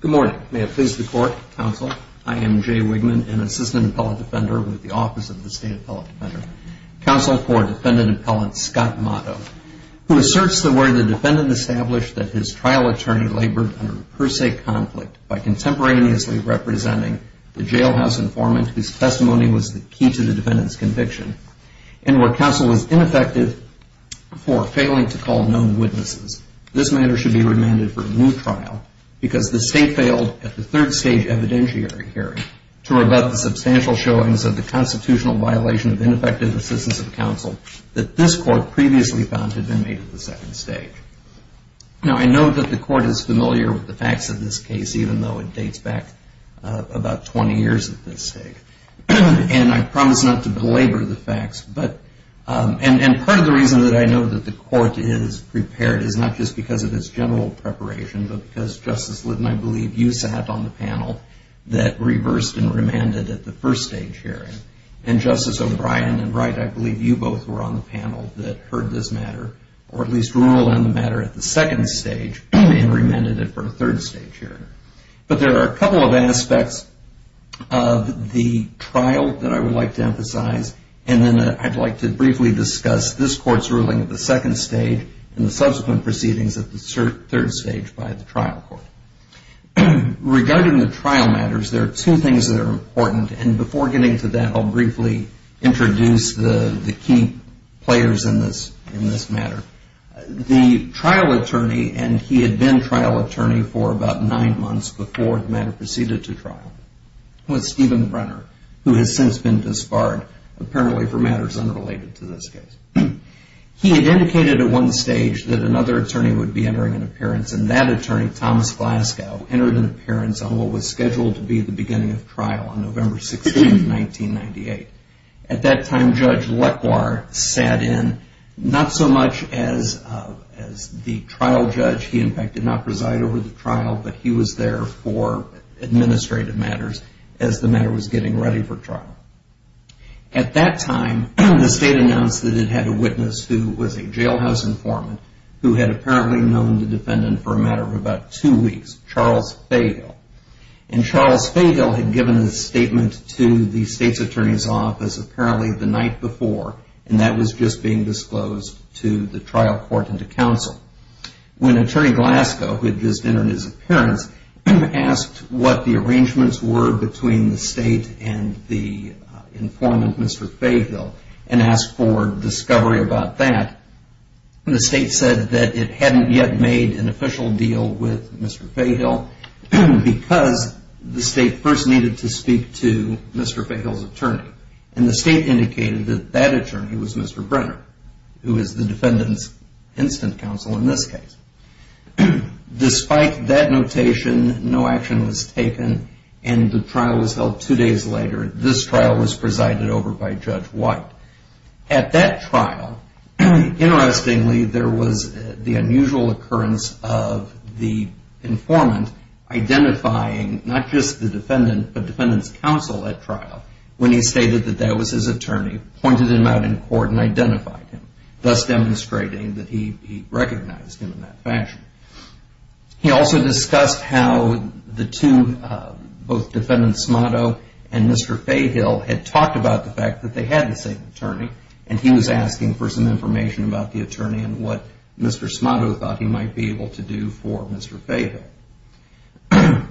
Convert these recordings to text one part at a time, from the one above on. Good morning. May it please the Court, Counsel, I am Jay Wigman, an Assistant Appellate Defender with the Office of the State Appellate Defender. Counsel for Defendant Appellant Scott Smado, who asserts that where the defendant established that his trial attorney labored under per se conflict by contemporaneously representing the jailhouse informant whose testimony was the key to the defendant's conviction, and where counsel was ineffective for failing to call known witnesses, this matter should be remanded for a new trial because the state failed at the third stage evidentiary hearing to rebut the substantial showings of the constitutional violation of ineffective assistance of counsel that this Court previously found had been made at the second stage. Now I know that the Court is familiar with the facts of this case, even though it dates back about 20 years at this stage. And I promise not to belabor the facts, but, and part of the reason that I know that the Court is prepared is not just because of its general preparation, but because Justice Litton, I believe you sat on the panel that reversed and remanded at the first stage hearing. And Justice O'Brien and Wright, I believe you both were on the panel that heard this matter, or at least ruled on the matter at the second stage and remanded it for a third stage hearing. But there are a couple of aspects of the trial that I would like to emphasize, and then I'd like to briefly discuss this Court's ruling at the second stage and the subsequent proceedings at the third stage by the trial court. Regarding the trial matters, there are two things that are important, and before getting to that, I'll briefly introduce the key players in this matter. The trial attorney, and he had been trial attorney for about nine months before the matter proceeded to trial, was he had indicated at one stage that another attorney would be entering an appearance, and that attorney, Thomas Glasgow, entered an appearance on what was scheduled to be the beginning of trial on November 16th, 1998. At that time, Judge Lequar sat in, not so much as the trial judge, he in fact did not preside over the trial, but he was there for administrative matters as the matter was getting ready for trial. At that time, the state announced that it had a witness who was a jailhouse informant who had apparently known the defendant for a matter of about two weeks, Charles Faygill. And Charles Faygill had given his statement to the state's attorney's office apparently the night before, and that was just being disclosed to the trial court and to counsel. When Attorney Glasgow, who had met with the state and the informant, Mr. Faygill, and asked for discovery about that, the state said that it hadn't yet made an official deal with Mr. Faygill because the state first needed to speak to Mr. Faygill's attorney. And the state indicated that that attorney was Mr. Brenner, who is the defendant's instant counsel in this case. Despite that notation, no action was taken and the trial was held two days later. This trial was presided over by Judge White. At that trial, interestingly, there was the unusual occurrence of the informant identifying not just the defendant, but the defendant's counsel at trial. When he stated that that was his attorney, pointed him out in court and said that he was not the defendant's counsel. He also discussed how the two, both Defendant Smato and Mr. Faygill, had talked about the fact that they had the same attorney, and he was asking for some information about the attorney and what Mr. Smato thought he might be able to do for Mr. Faygill.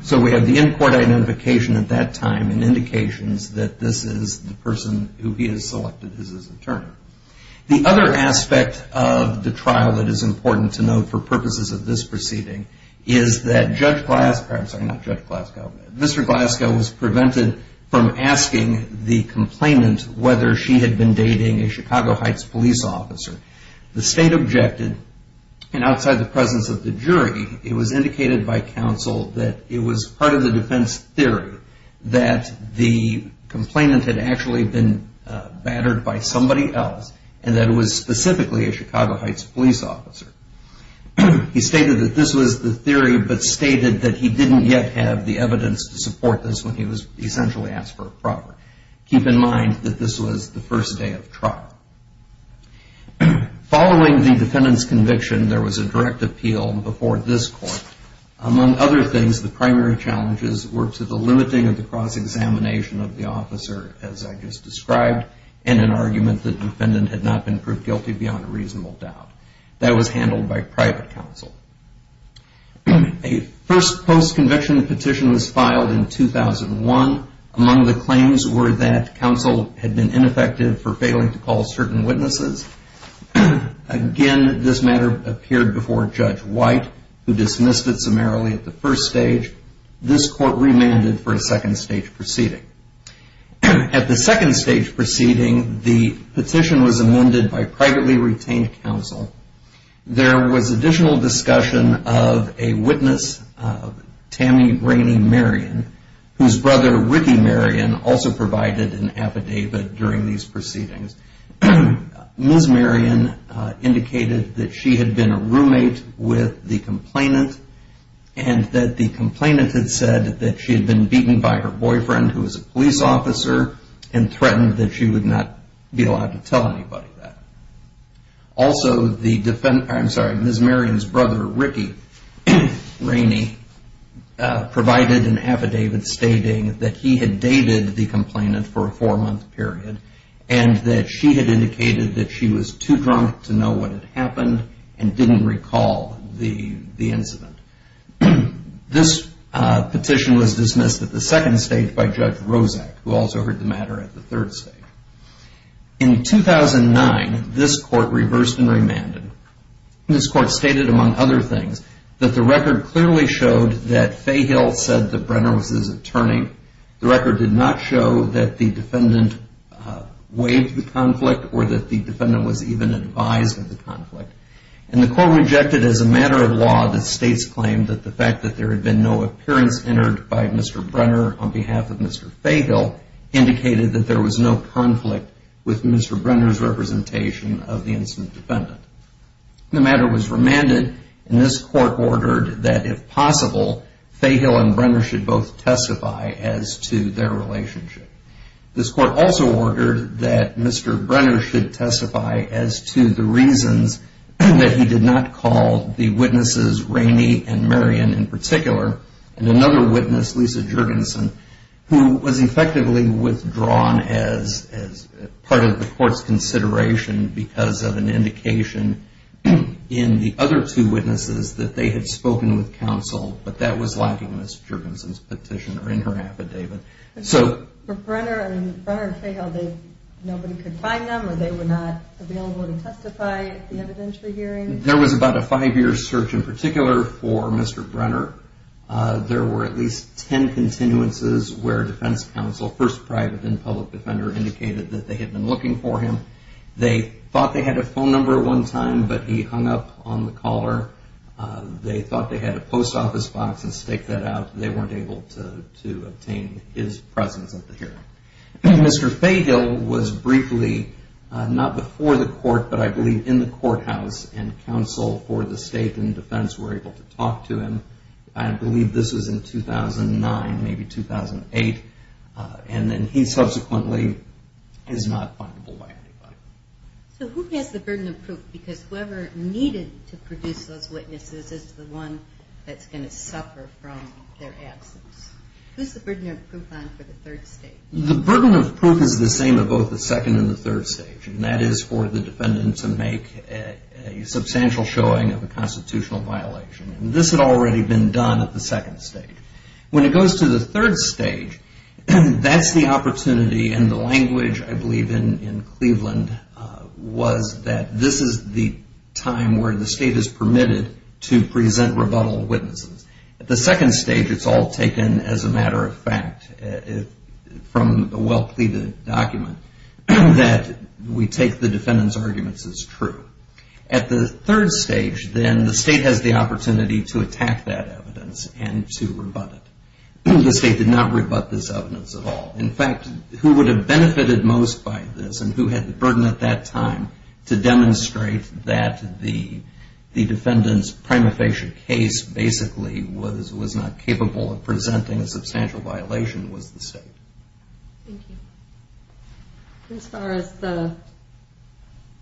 So we have the in-court identification at that time and indications that this is the person who he has selected as his attorney. The other aspect of the trial that is important to note for purposes of this proceeding is that Judge Glasgow, I'm sorry, not Judge Glasgow, Mr. Glasgow was prevented from asking the complainant whether she had been dating a Chicago Heights police officer. The state objected, and outside the presence of the jury, it was indicated by counsel that it was part of the defense theory that the complainant had actually been battered by somebody else, and that it was specifically a Chicago Heights police officer. He stated that this was the theory, but stated that he didn't yet have the evidence to support this when he was essentially asked for a proper. Keep in mind that this was the first day of trial. Following the defendant's conviction, there was a direct challenge to the cross-examination of the officer, as I just described, and an argument that the defendant had not been proved guilty beyond a reasonable doubt. That was handled by private counsel. A first post-conviction petition was filed in 2001. Among the claims were that counsel had been ineffective for failing to call certain witnesses. Again, this matter appeared before Judge White, who dismissed it summarily at the first stage. This court remanded for a second stage proceeding. At the second stage proceeding, the petition was amended by privately retained counsel. There was additional discussion of a witness, Tammy Rainey Marion, whose brother, Ricky Marion, also provided an affidavit during these proceedings. Ms. Marion indicated that she had been a roommate with the complainant and that the complainant had said that she had been beaten by her boyfriend, who was a police officer, and threatened that she would not be allowed to tell anybody that. Also, Ms. Marion's brother, Ricky Rainey, provided an affidavit stating that he had dated the complainant for a four-month period and that she had indicated that she was too drunk to know what had happened and didn't recall the incident. This petition was dismissed at the second stage by Judge Rozak, who also heard the matter at the third stage. In 2009, this court reversed and remanded. This court stated, among other things, that the record clearly showed that Fahill said that Brenner was his attorney. The record did not show that the defendant waived the conflict or that the defendant was even advised of the conflict. And the court rejected as a matter of law the state's claim that the fact that there had been no appearance entered by Mr. Brenner on behalf of Mr. Fahill indicated that there was no conflict with Mr. Brenner's representation of the incident defendant. The matter was remanded, and this court ordered that, if possible, Fahill and Brenner should both testify as to their relationship. This court also ordered that Mr. Brenner should testify as to the reasons that he did not call the witnesses, Rainey and Marion in particular, and another witness, Lisa Jurgensen, who was effectively withdrawn as part of the court's consideration because of an indication in the other two witnesses that they had spoken with counsel, but that was lacking in Ms. Jurgensen's petition or in her affidavit. For Brenner and Fahill, nobody could find them, or they were not available to testify at the evidentiary hearing? There was about a five-year search in particular for Mr. Brenner. There were at least ten continuances where defense counsel, first private and public defender, indicated that they had been looking for him. They thought they had a phone number at one time, but he hung up on the caller. They thought they had a post office box and staked that out. They weren't able to obtain his presence at the hearing. Mr. Fahill was briefly, not before the court, but I believe in the courthouse, and counsel for the state and defense were able to talk to him. I believe this was in 2009, maybe 2008. He subsequently is not findable by anybody. So who has the burden of proof? Because whoever needed to produce those witnesses is the one that's going to suffer from their absence. Who's the burden of proof on for the third stage? The burden of proof is the same of both the second and the third stage, and that is for the defendant to make a substantial showing of a constitutional violation. This had already been done at the second stage. When it goes to the third stage, that's the opportunity, and the language I believe in Cleveland was that this is the time where the state is permitted to present rebuttal of witnesses. At the second stage, it's all taken as a matter of fact, from a well-pleaded document, that we take the defendant's arguments as true. At the third stage, then, the state has the opportunity to attack that evidence and to rebut it. The state did not rebut this evidence at all. In fact, who would have benefited most by this and who had the burden at that time to demonstrate that the defendant's prima facie case basically was not capable of presenting a substantial violation was the state. Thank you. As far as the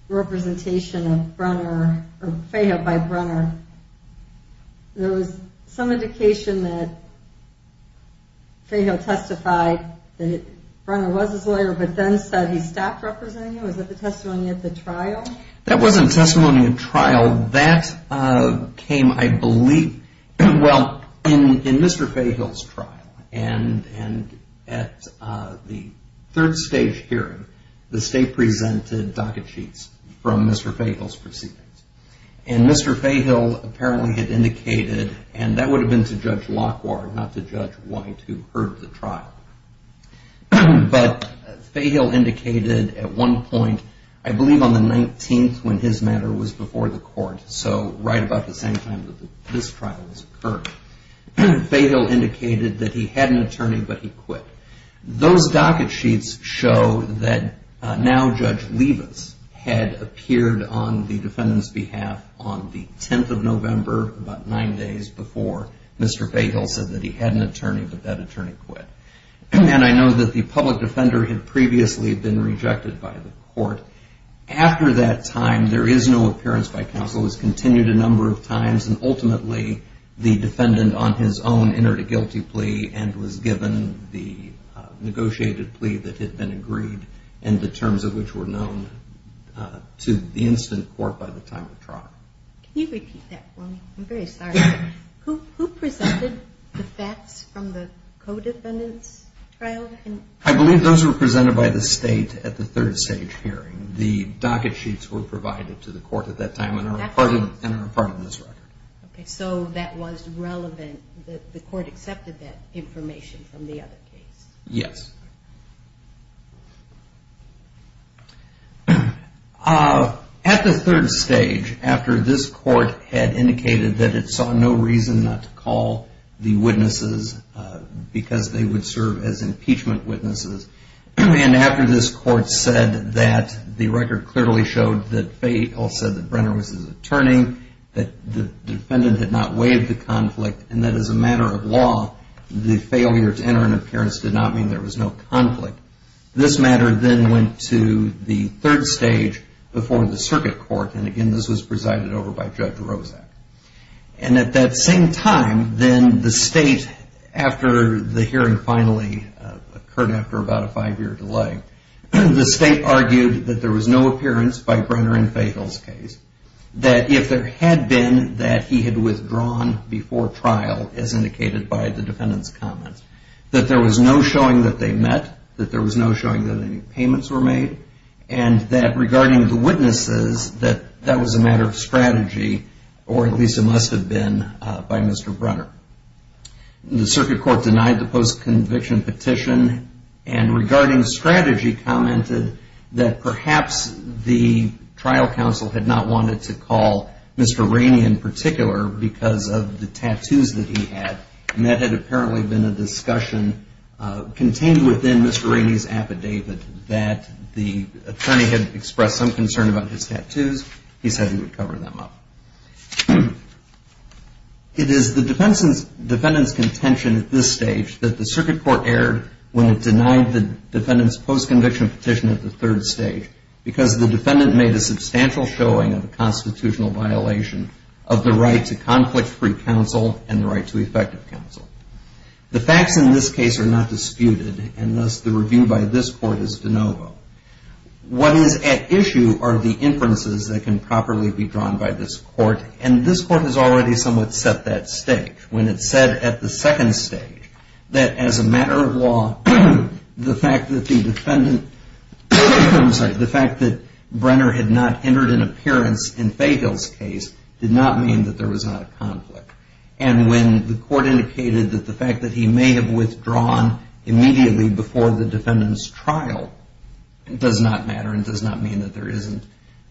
representation of Brunner, or Fahill by Brunner, there was some indication that Fahill testified that Brunner was his lawyer, but then said he stopped representing him. Was that the testimony at the trial? That wasn't testimony at trial. That came, I believe, in Mr. Fahill's trial. At the third stage hearing, the state presented docket sheets from Mr. Fahill's proceedings. Mr. Fahill apparently had indicated, and that would have been to Judge Lockhart, not to Judge White, who heard the trial. But Fahill indicated at one point, I believe on the 19th when his matter was before the court, so right about the same time that this trial was occurring, Fahill indicated that he had an attorney, but he quit. Those docket sheets show that now Judge Levis had appeared on the defendant's behalf on the 10th of November, about nine days before Mr. Fahill said that he had an attorney, but that attorney quit. And I know that the public defender had previously been rejected by the court. After that time, there is no appearance by counsel. It was continued a number of times, and ultimately the defendant on his own entered a guilty plea and was given the negotiated plea that had been agreed, and the terms of which were known to the instant court by the time of trial. Can you repeat that for me? I'm very sorry. Who presented the facts from the co-defendant's trial? I believe those were presented by the state at the third stage hearing. The docket sheets were provided to the court at that time and are a part of this record. So that was relevant, the court accepted that information from the other case? Yes. At the third stage, after this court had indicated that it saw no reason not to call the witnesses because they would serve as impeachment witnesses, and after this court said that the record clearly showed that Fahill said that Brenner was his attorney, that the defendant had not waived the conflict, and that as a matter of law, the failure to enter an appearance did not mean there was no conflict, this matter then went to the third stage before the circuit court, and again this was presided over by Judge Rozak. And at that same time, then the state, after the hearing finally occurred after about a five year delay, the state argued that there was no appearance by Brenner in Fahill's case, that if there had been that he had withdrawn before trial, as indicated by the defendant's comments, that there was no showing that they met, that there was no showing that any payments were made, and that regarding the witnesses, that that was a matter of strategy, or at least it must have been by Mr. Brenner. The circuit court denied the post-conviction petition, and regarding strategy commented that perhaps the trial counsel had not wanted to call Mr. Rainey in particular because of the tattoos that he had, and that had apparently been a discussion contained within Mr. Rainey's affidavit that the attorney had expressed some concern about his tattoos, he said he would cover them up. It is the defendant's contention at this stage that the circuit court erred when it denied the defendant's post-conviction petition at the third stage, because the defendant made a substantial showing of a constitutional violation of the right to conflict-free counsel and the right to effective counsel. The facts in this case are not disputed, and thus the review by this court is de novo. What is at issue are the inferences that can properly be drawn by this court, and this court has already somewhat set that stage. When it said at the second stage that as a matter of law, the fact that the defendant, the fact that Brenner had not entered an appearance in Fahill's case did not mean that there was not a conflict, and when the court indicated that the fact that he may have withdrawn immediately before the defendant's trial does not matter and does not mean that there isn't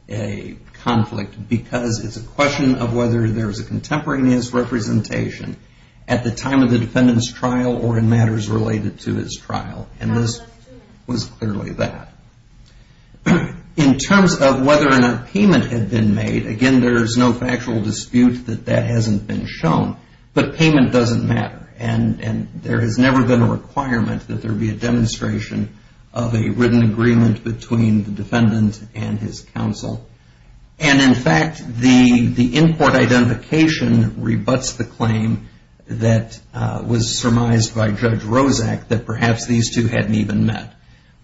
a conflict, because it's a question of whether there's a contemporaneous representation at the time of the defendant's trial or in matters related to his trial, and this was clearly that. In terms of whether or not payment had been made, again, there's no factual dispute that that hasn't been shown, but payment doesn't matter, and there has never been a requirement that there be a demonstration of a written agreement between the defendant and his counsel, and in fact, the case by Judge Rozak that perhaps these two hadn't even met,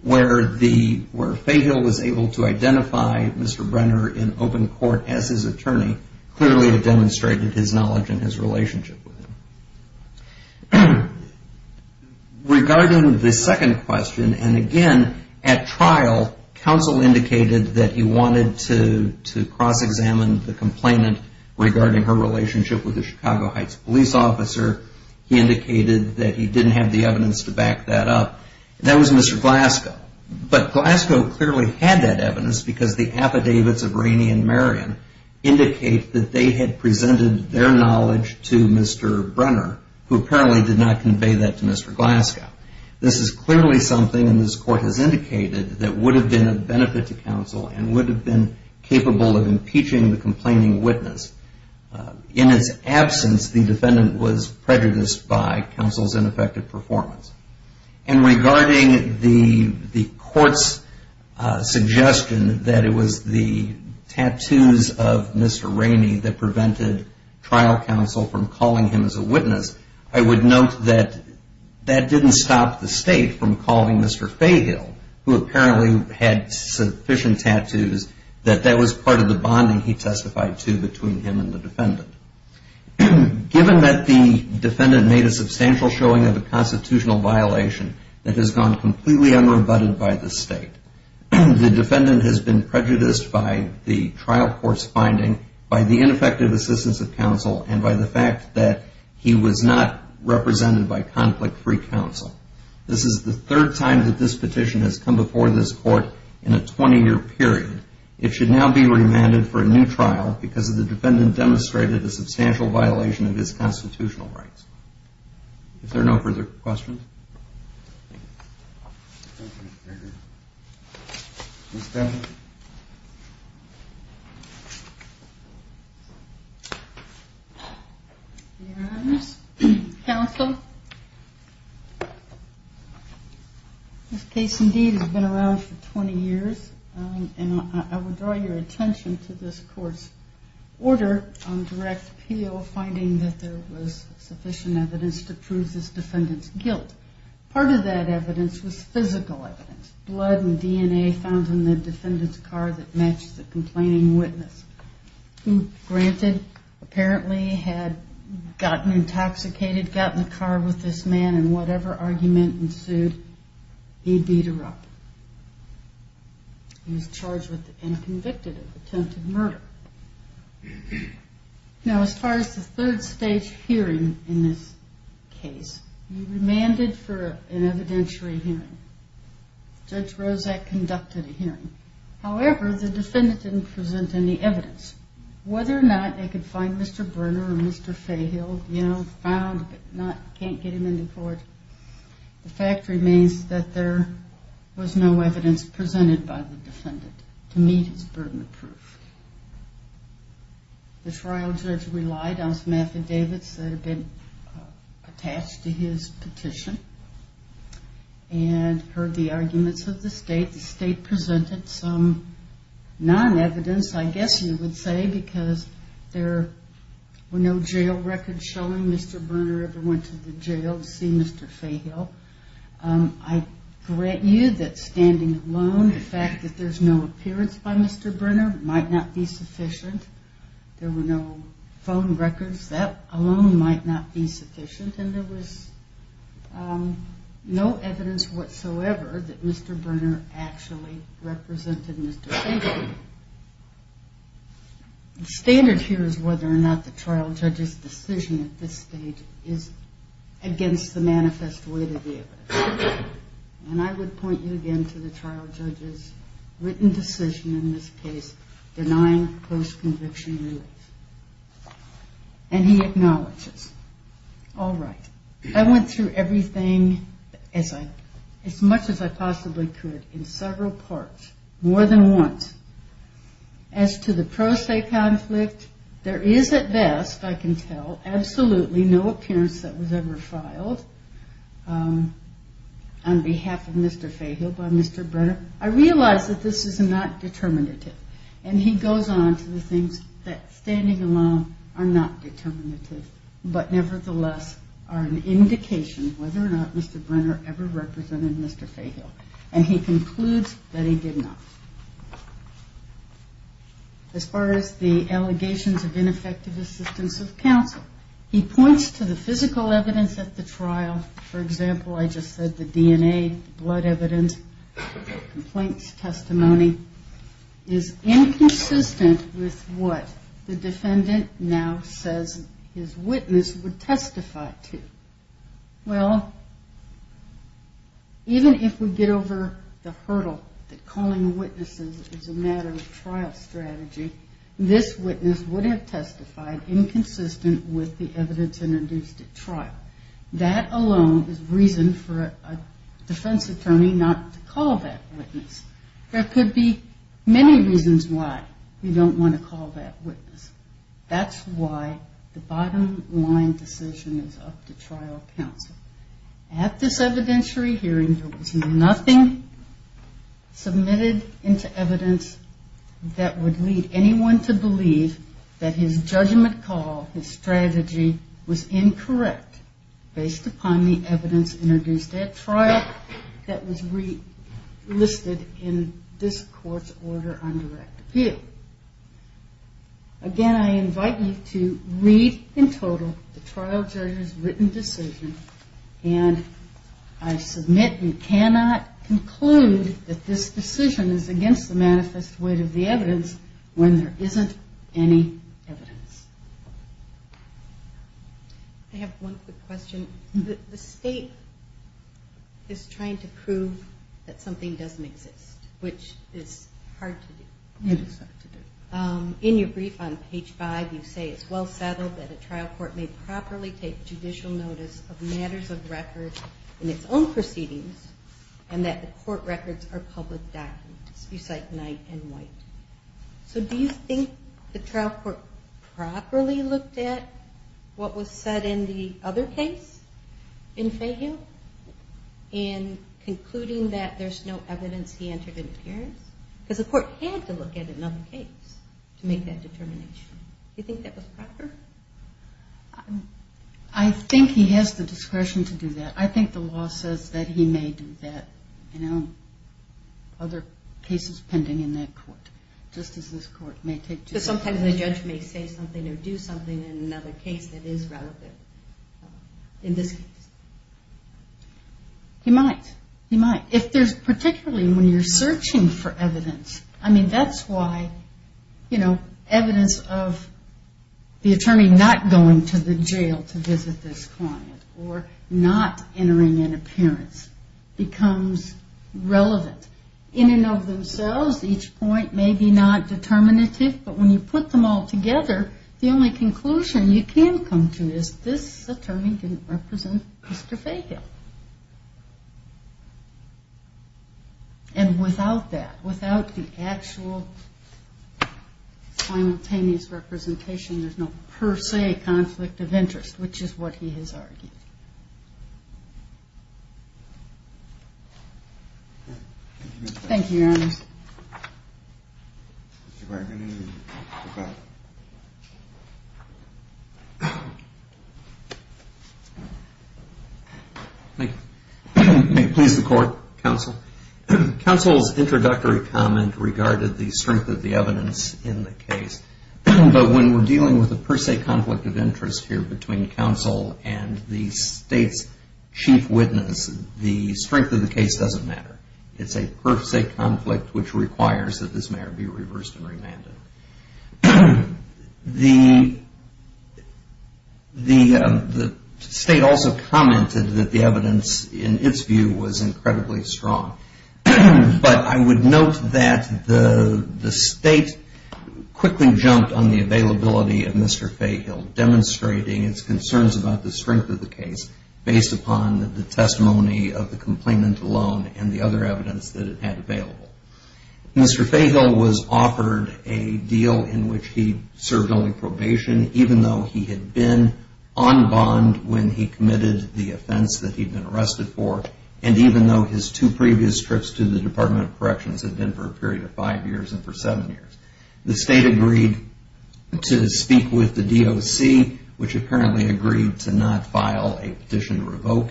where Fahill was able to identify Mr. Brenner in open court as his attorney clearly demonstrated his knowledge and his relationship with him. Regarding the second question, and again, at trial, counsel indicated that he wanted to cross-examine the complainant regarding her relationship with the Chicago Heights police officer. He indicated that he didn't have the evidence to back that up. That was Mr. Glasgow, but Glasgow clearly had that evidence because the affidavits of Rainey and Marion indicate that they had presented their knowledge to Mr. Brenner, who apparently did not convey that to Mr. Glasgow. This is clearly something, and this court has indicated, that would have been of benefit to counsel and would have been capable of impeaching the complaining witness. In its absence, the defendant was prejudiced by counsel's ineffective performance. And regarding the court's suggestion that it was the tattoos of Mr. Rainey that prevented trial counsel from calling him as a witness, I would note that that didn't stop the state from calling Mr. Fahill, who apparently had sufficient tattoos, that that was part of the bonding he testified to between him and the defendant. Given that the defendant made a substantial showing of a constitutional violation that has gone completely unrebutted by the state, the defendant has been prejudiced by the trial court's finding, by the conflict-free counsel. This is the third time that this petition has come before this court in a 20-year period. It should now be remanded for a new trial because the defendant demonstrated a substantial violation of his constitutional rights. If there are no further questions. Your Honors, Counsel, this case indeed has been around for 20 years, and I would draw your attention to this court's order on direct appeal, finding that there was sufficient evidence to prove this defendant's guilt. Part of that evidence was physical evidence, blood and DNA found in the defendant's car that matched the complaining witness, who, granted, apparently had gotten intoxicated, got in the car with this man, and whatever argument ensued, he beat her up. He was charged with and convicted of attempted murder. Now, as far as the third stage hearing in this case, you're remanded for an evidentiary hearing. Judge Rozak conducted a hearing. However, the defendant didn't present any evidence. Whether or not they could find Mr. Burner or Mr. Fahill, you know, found, but can't get him in the court, the fact remains that there was no evidence presented by the defendant to meet his burden of proof. The trial judge relied on some affidavits that had been attached to his petition and heard the arguments of the state. The state presented some non-evidence, I guess you would say, because there were no jail records showing Mr. Burner ever went to the jail to see Mr. Fahill. I grant you that standing alone, the fact that there's no appearance by Mr. Burner, might not be sufficient. There were no phone records. That alone might not be sufficient, and there was no evidence whatsoever that Mr. Burner actually represented Mr. Fahill. The standard here is whether or not the trial judge's decision at this stage is against the manifest way of the evidence. And I would point you again to the trial judge's written decision in this case, denying post-conviction rules. And he acknowledges, all right, I went through everything as much as I possibly could in several parts, more than once. As to the pro se conflict, there is at best, I can tell, absolutely no appearance that was ever filed on behalf of Mr. Fahill by Mr. Burner. I realize that this is not determinative. And he goes on to the things that, standing alone, are not determinative, but nevertheless are an indication whether or not Mr. Burner ever as far as the allegations of ineffective assistance of counsel. He points to the physical evidence at the trial. For example, I just said the DNA, blood evidence, complaints, testimony is inconsistent with what the defendant now says his witness would testify to. Well, even if we get over the hurdle that calling witnesses is a matter of trial strategy, this witness would have testified inconsistent with the evidence introduced at trial. That alone is reason for a defense attorney not to call that witness. There could be many reasons why we don't want to call that witness. That's why the bottom line decision is up to trial counsel. At this evidentiary hearing, there was nothing submitted into evidence that would lead anyone to believe that his judgment call, his strategy, was incorrect based upon the evidence introduced at trial that was listed in this court's order on direct appeal. Again, I invite you to read in total the trial judge's written decision, and I submit and cannot conclude that this decision is against the manifest weight of the evidence when there isn't any evidence. I have one quick question. The state is trying to prove that something doesn't exist, which is hard to do. In your brief on page five, you say it's well settled that a trial court may properly take judicial notice of matters of record in its own proceedings and that the court records are public documents. You cite Knight and White. So do you think the trial court properly looked at what was said in the other case in Fahill in concluding that there's no evidence he entered into appearance? Because the court had to look at another case to make that determination. Do you think that was proper? I think he has the discretion to do that. I think the law says that he may do that in other cases pending in that court, just as this court may take judicial notice. Sometimes the judge may say something or do something in another case that is relevant. In this case. You might. Particularly when you're searching for evidence. That's why evidence of the attorney not going to the jail to visit this client or not entering in appearance becomes relevant. In and of themselves, each point may be not determinative, but when you put them all together, the only conclusion you can come to is this attorney didn't represent Mr. Fahill. And without that, without the actual simultaneous representation, there's no per se conflict of interest, which is what he has argued. Thank you, Your Honor. May it please the court, counsel? Counsel's introductory comment regarded the strength of the evidence in the case, but when we're dealing with a per se conflict of interest here between counsel and the attorney, there's no per se conflict which requires that this matter be reversed and remanded. The state also commented that the evidence in its view was incredibly strong. But I would note that the state quickly jumped on the availability of Mr. Fahill, demonstrating its concerns about the strength of the case based upon the testimony of the complainant alone and the other evidence that it had available. Mr. Fahill was offered a deal in which he served only probation, even though he had been on bond when he committed the offense that he'd been arrested for, and even though his two previous trips to the Department of Corrections had been for a period of five years and for seven years. The state agreed to speak with the DOC, which apparently agreed to not file a petition to revoke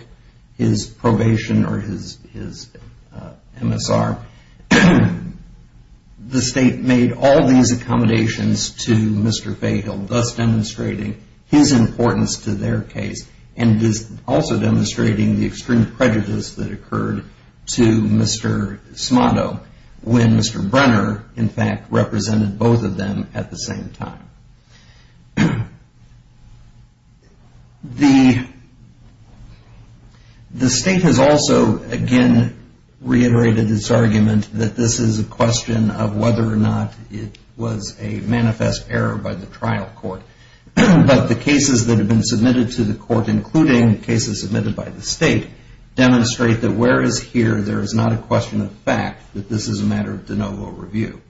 his probation or his MSR. The state made all these accommodations to Mr. Fahill, thus demonstrating his importance to their case and also demonstrating the extreme prejudice that occurred to Mr. Smato when Mr. Brenner, in fact, represented both of them at the same time. The state has also, again, reiterated its argument that this is a question of whether or not it was a manifest error by the trial court. But the cases that have been submitted to the court, including cases submitted by the state, demonstrate that whereas here there is not a question of fact that this is a matter of de novo review.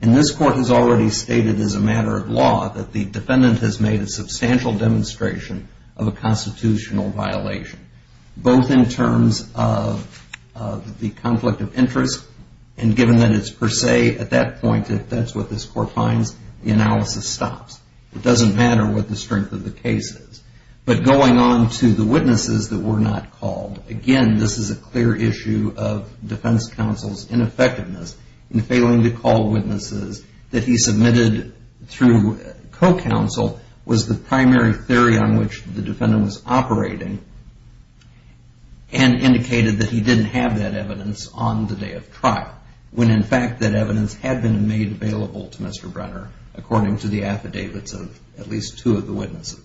And this court has already stated as a matter of law that the defendant has made a substantial demonstration of a constitutional violation, both in terms of the conflict of interest and given that it's per se, at that point, if that's what this court finds, the analysis stops. It doesn't matter what the strength of the case is. But going on to the witnesses that were not called, again, this is a clear issue of defense counsel's ineffectiveness in failing to call witnesses that he submitted through co-counsel was the primary theory on which the defendant was operating and indicated that he didn't have that evidence on the day of trial, when in fact that evidence had been made available to Mr. Brenner, according to the affidavits of at least two of the witnesses.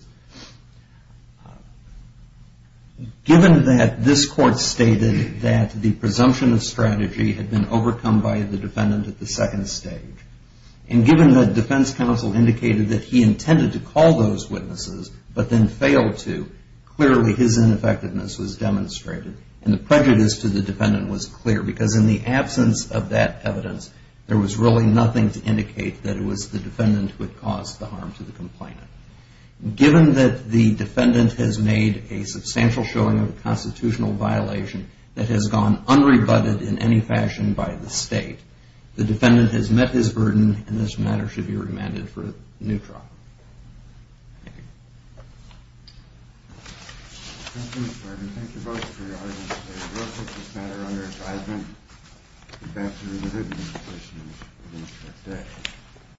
Given that this court stated that the presumption of strategy had been overcome by the defendant at the second stage, and given that defense counsel indicated that he intended to call those witnesses, but then failed to, clearly his ineffectiveness was demonstrated and the prejudice to the defendant was clear because in the absence of that evidence, there was really nothing to indicate that it was the defendant who had caused the harm to the complainant. Given that the defendant has made a substantial showing of a constitutional violation that has gone unrebutted in any fashion by the state, the defendant has met his burden and this matter should be remanded for neutral. Thank you.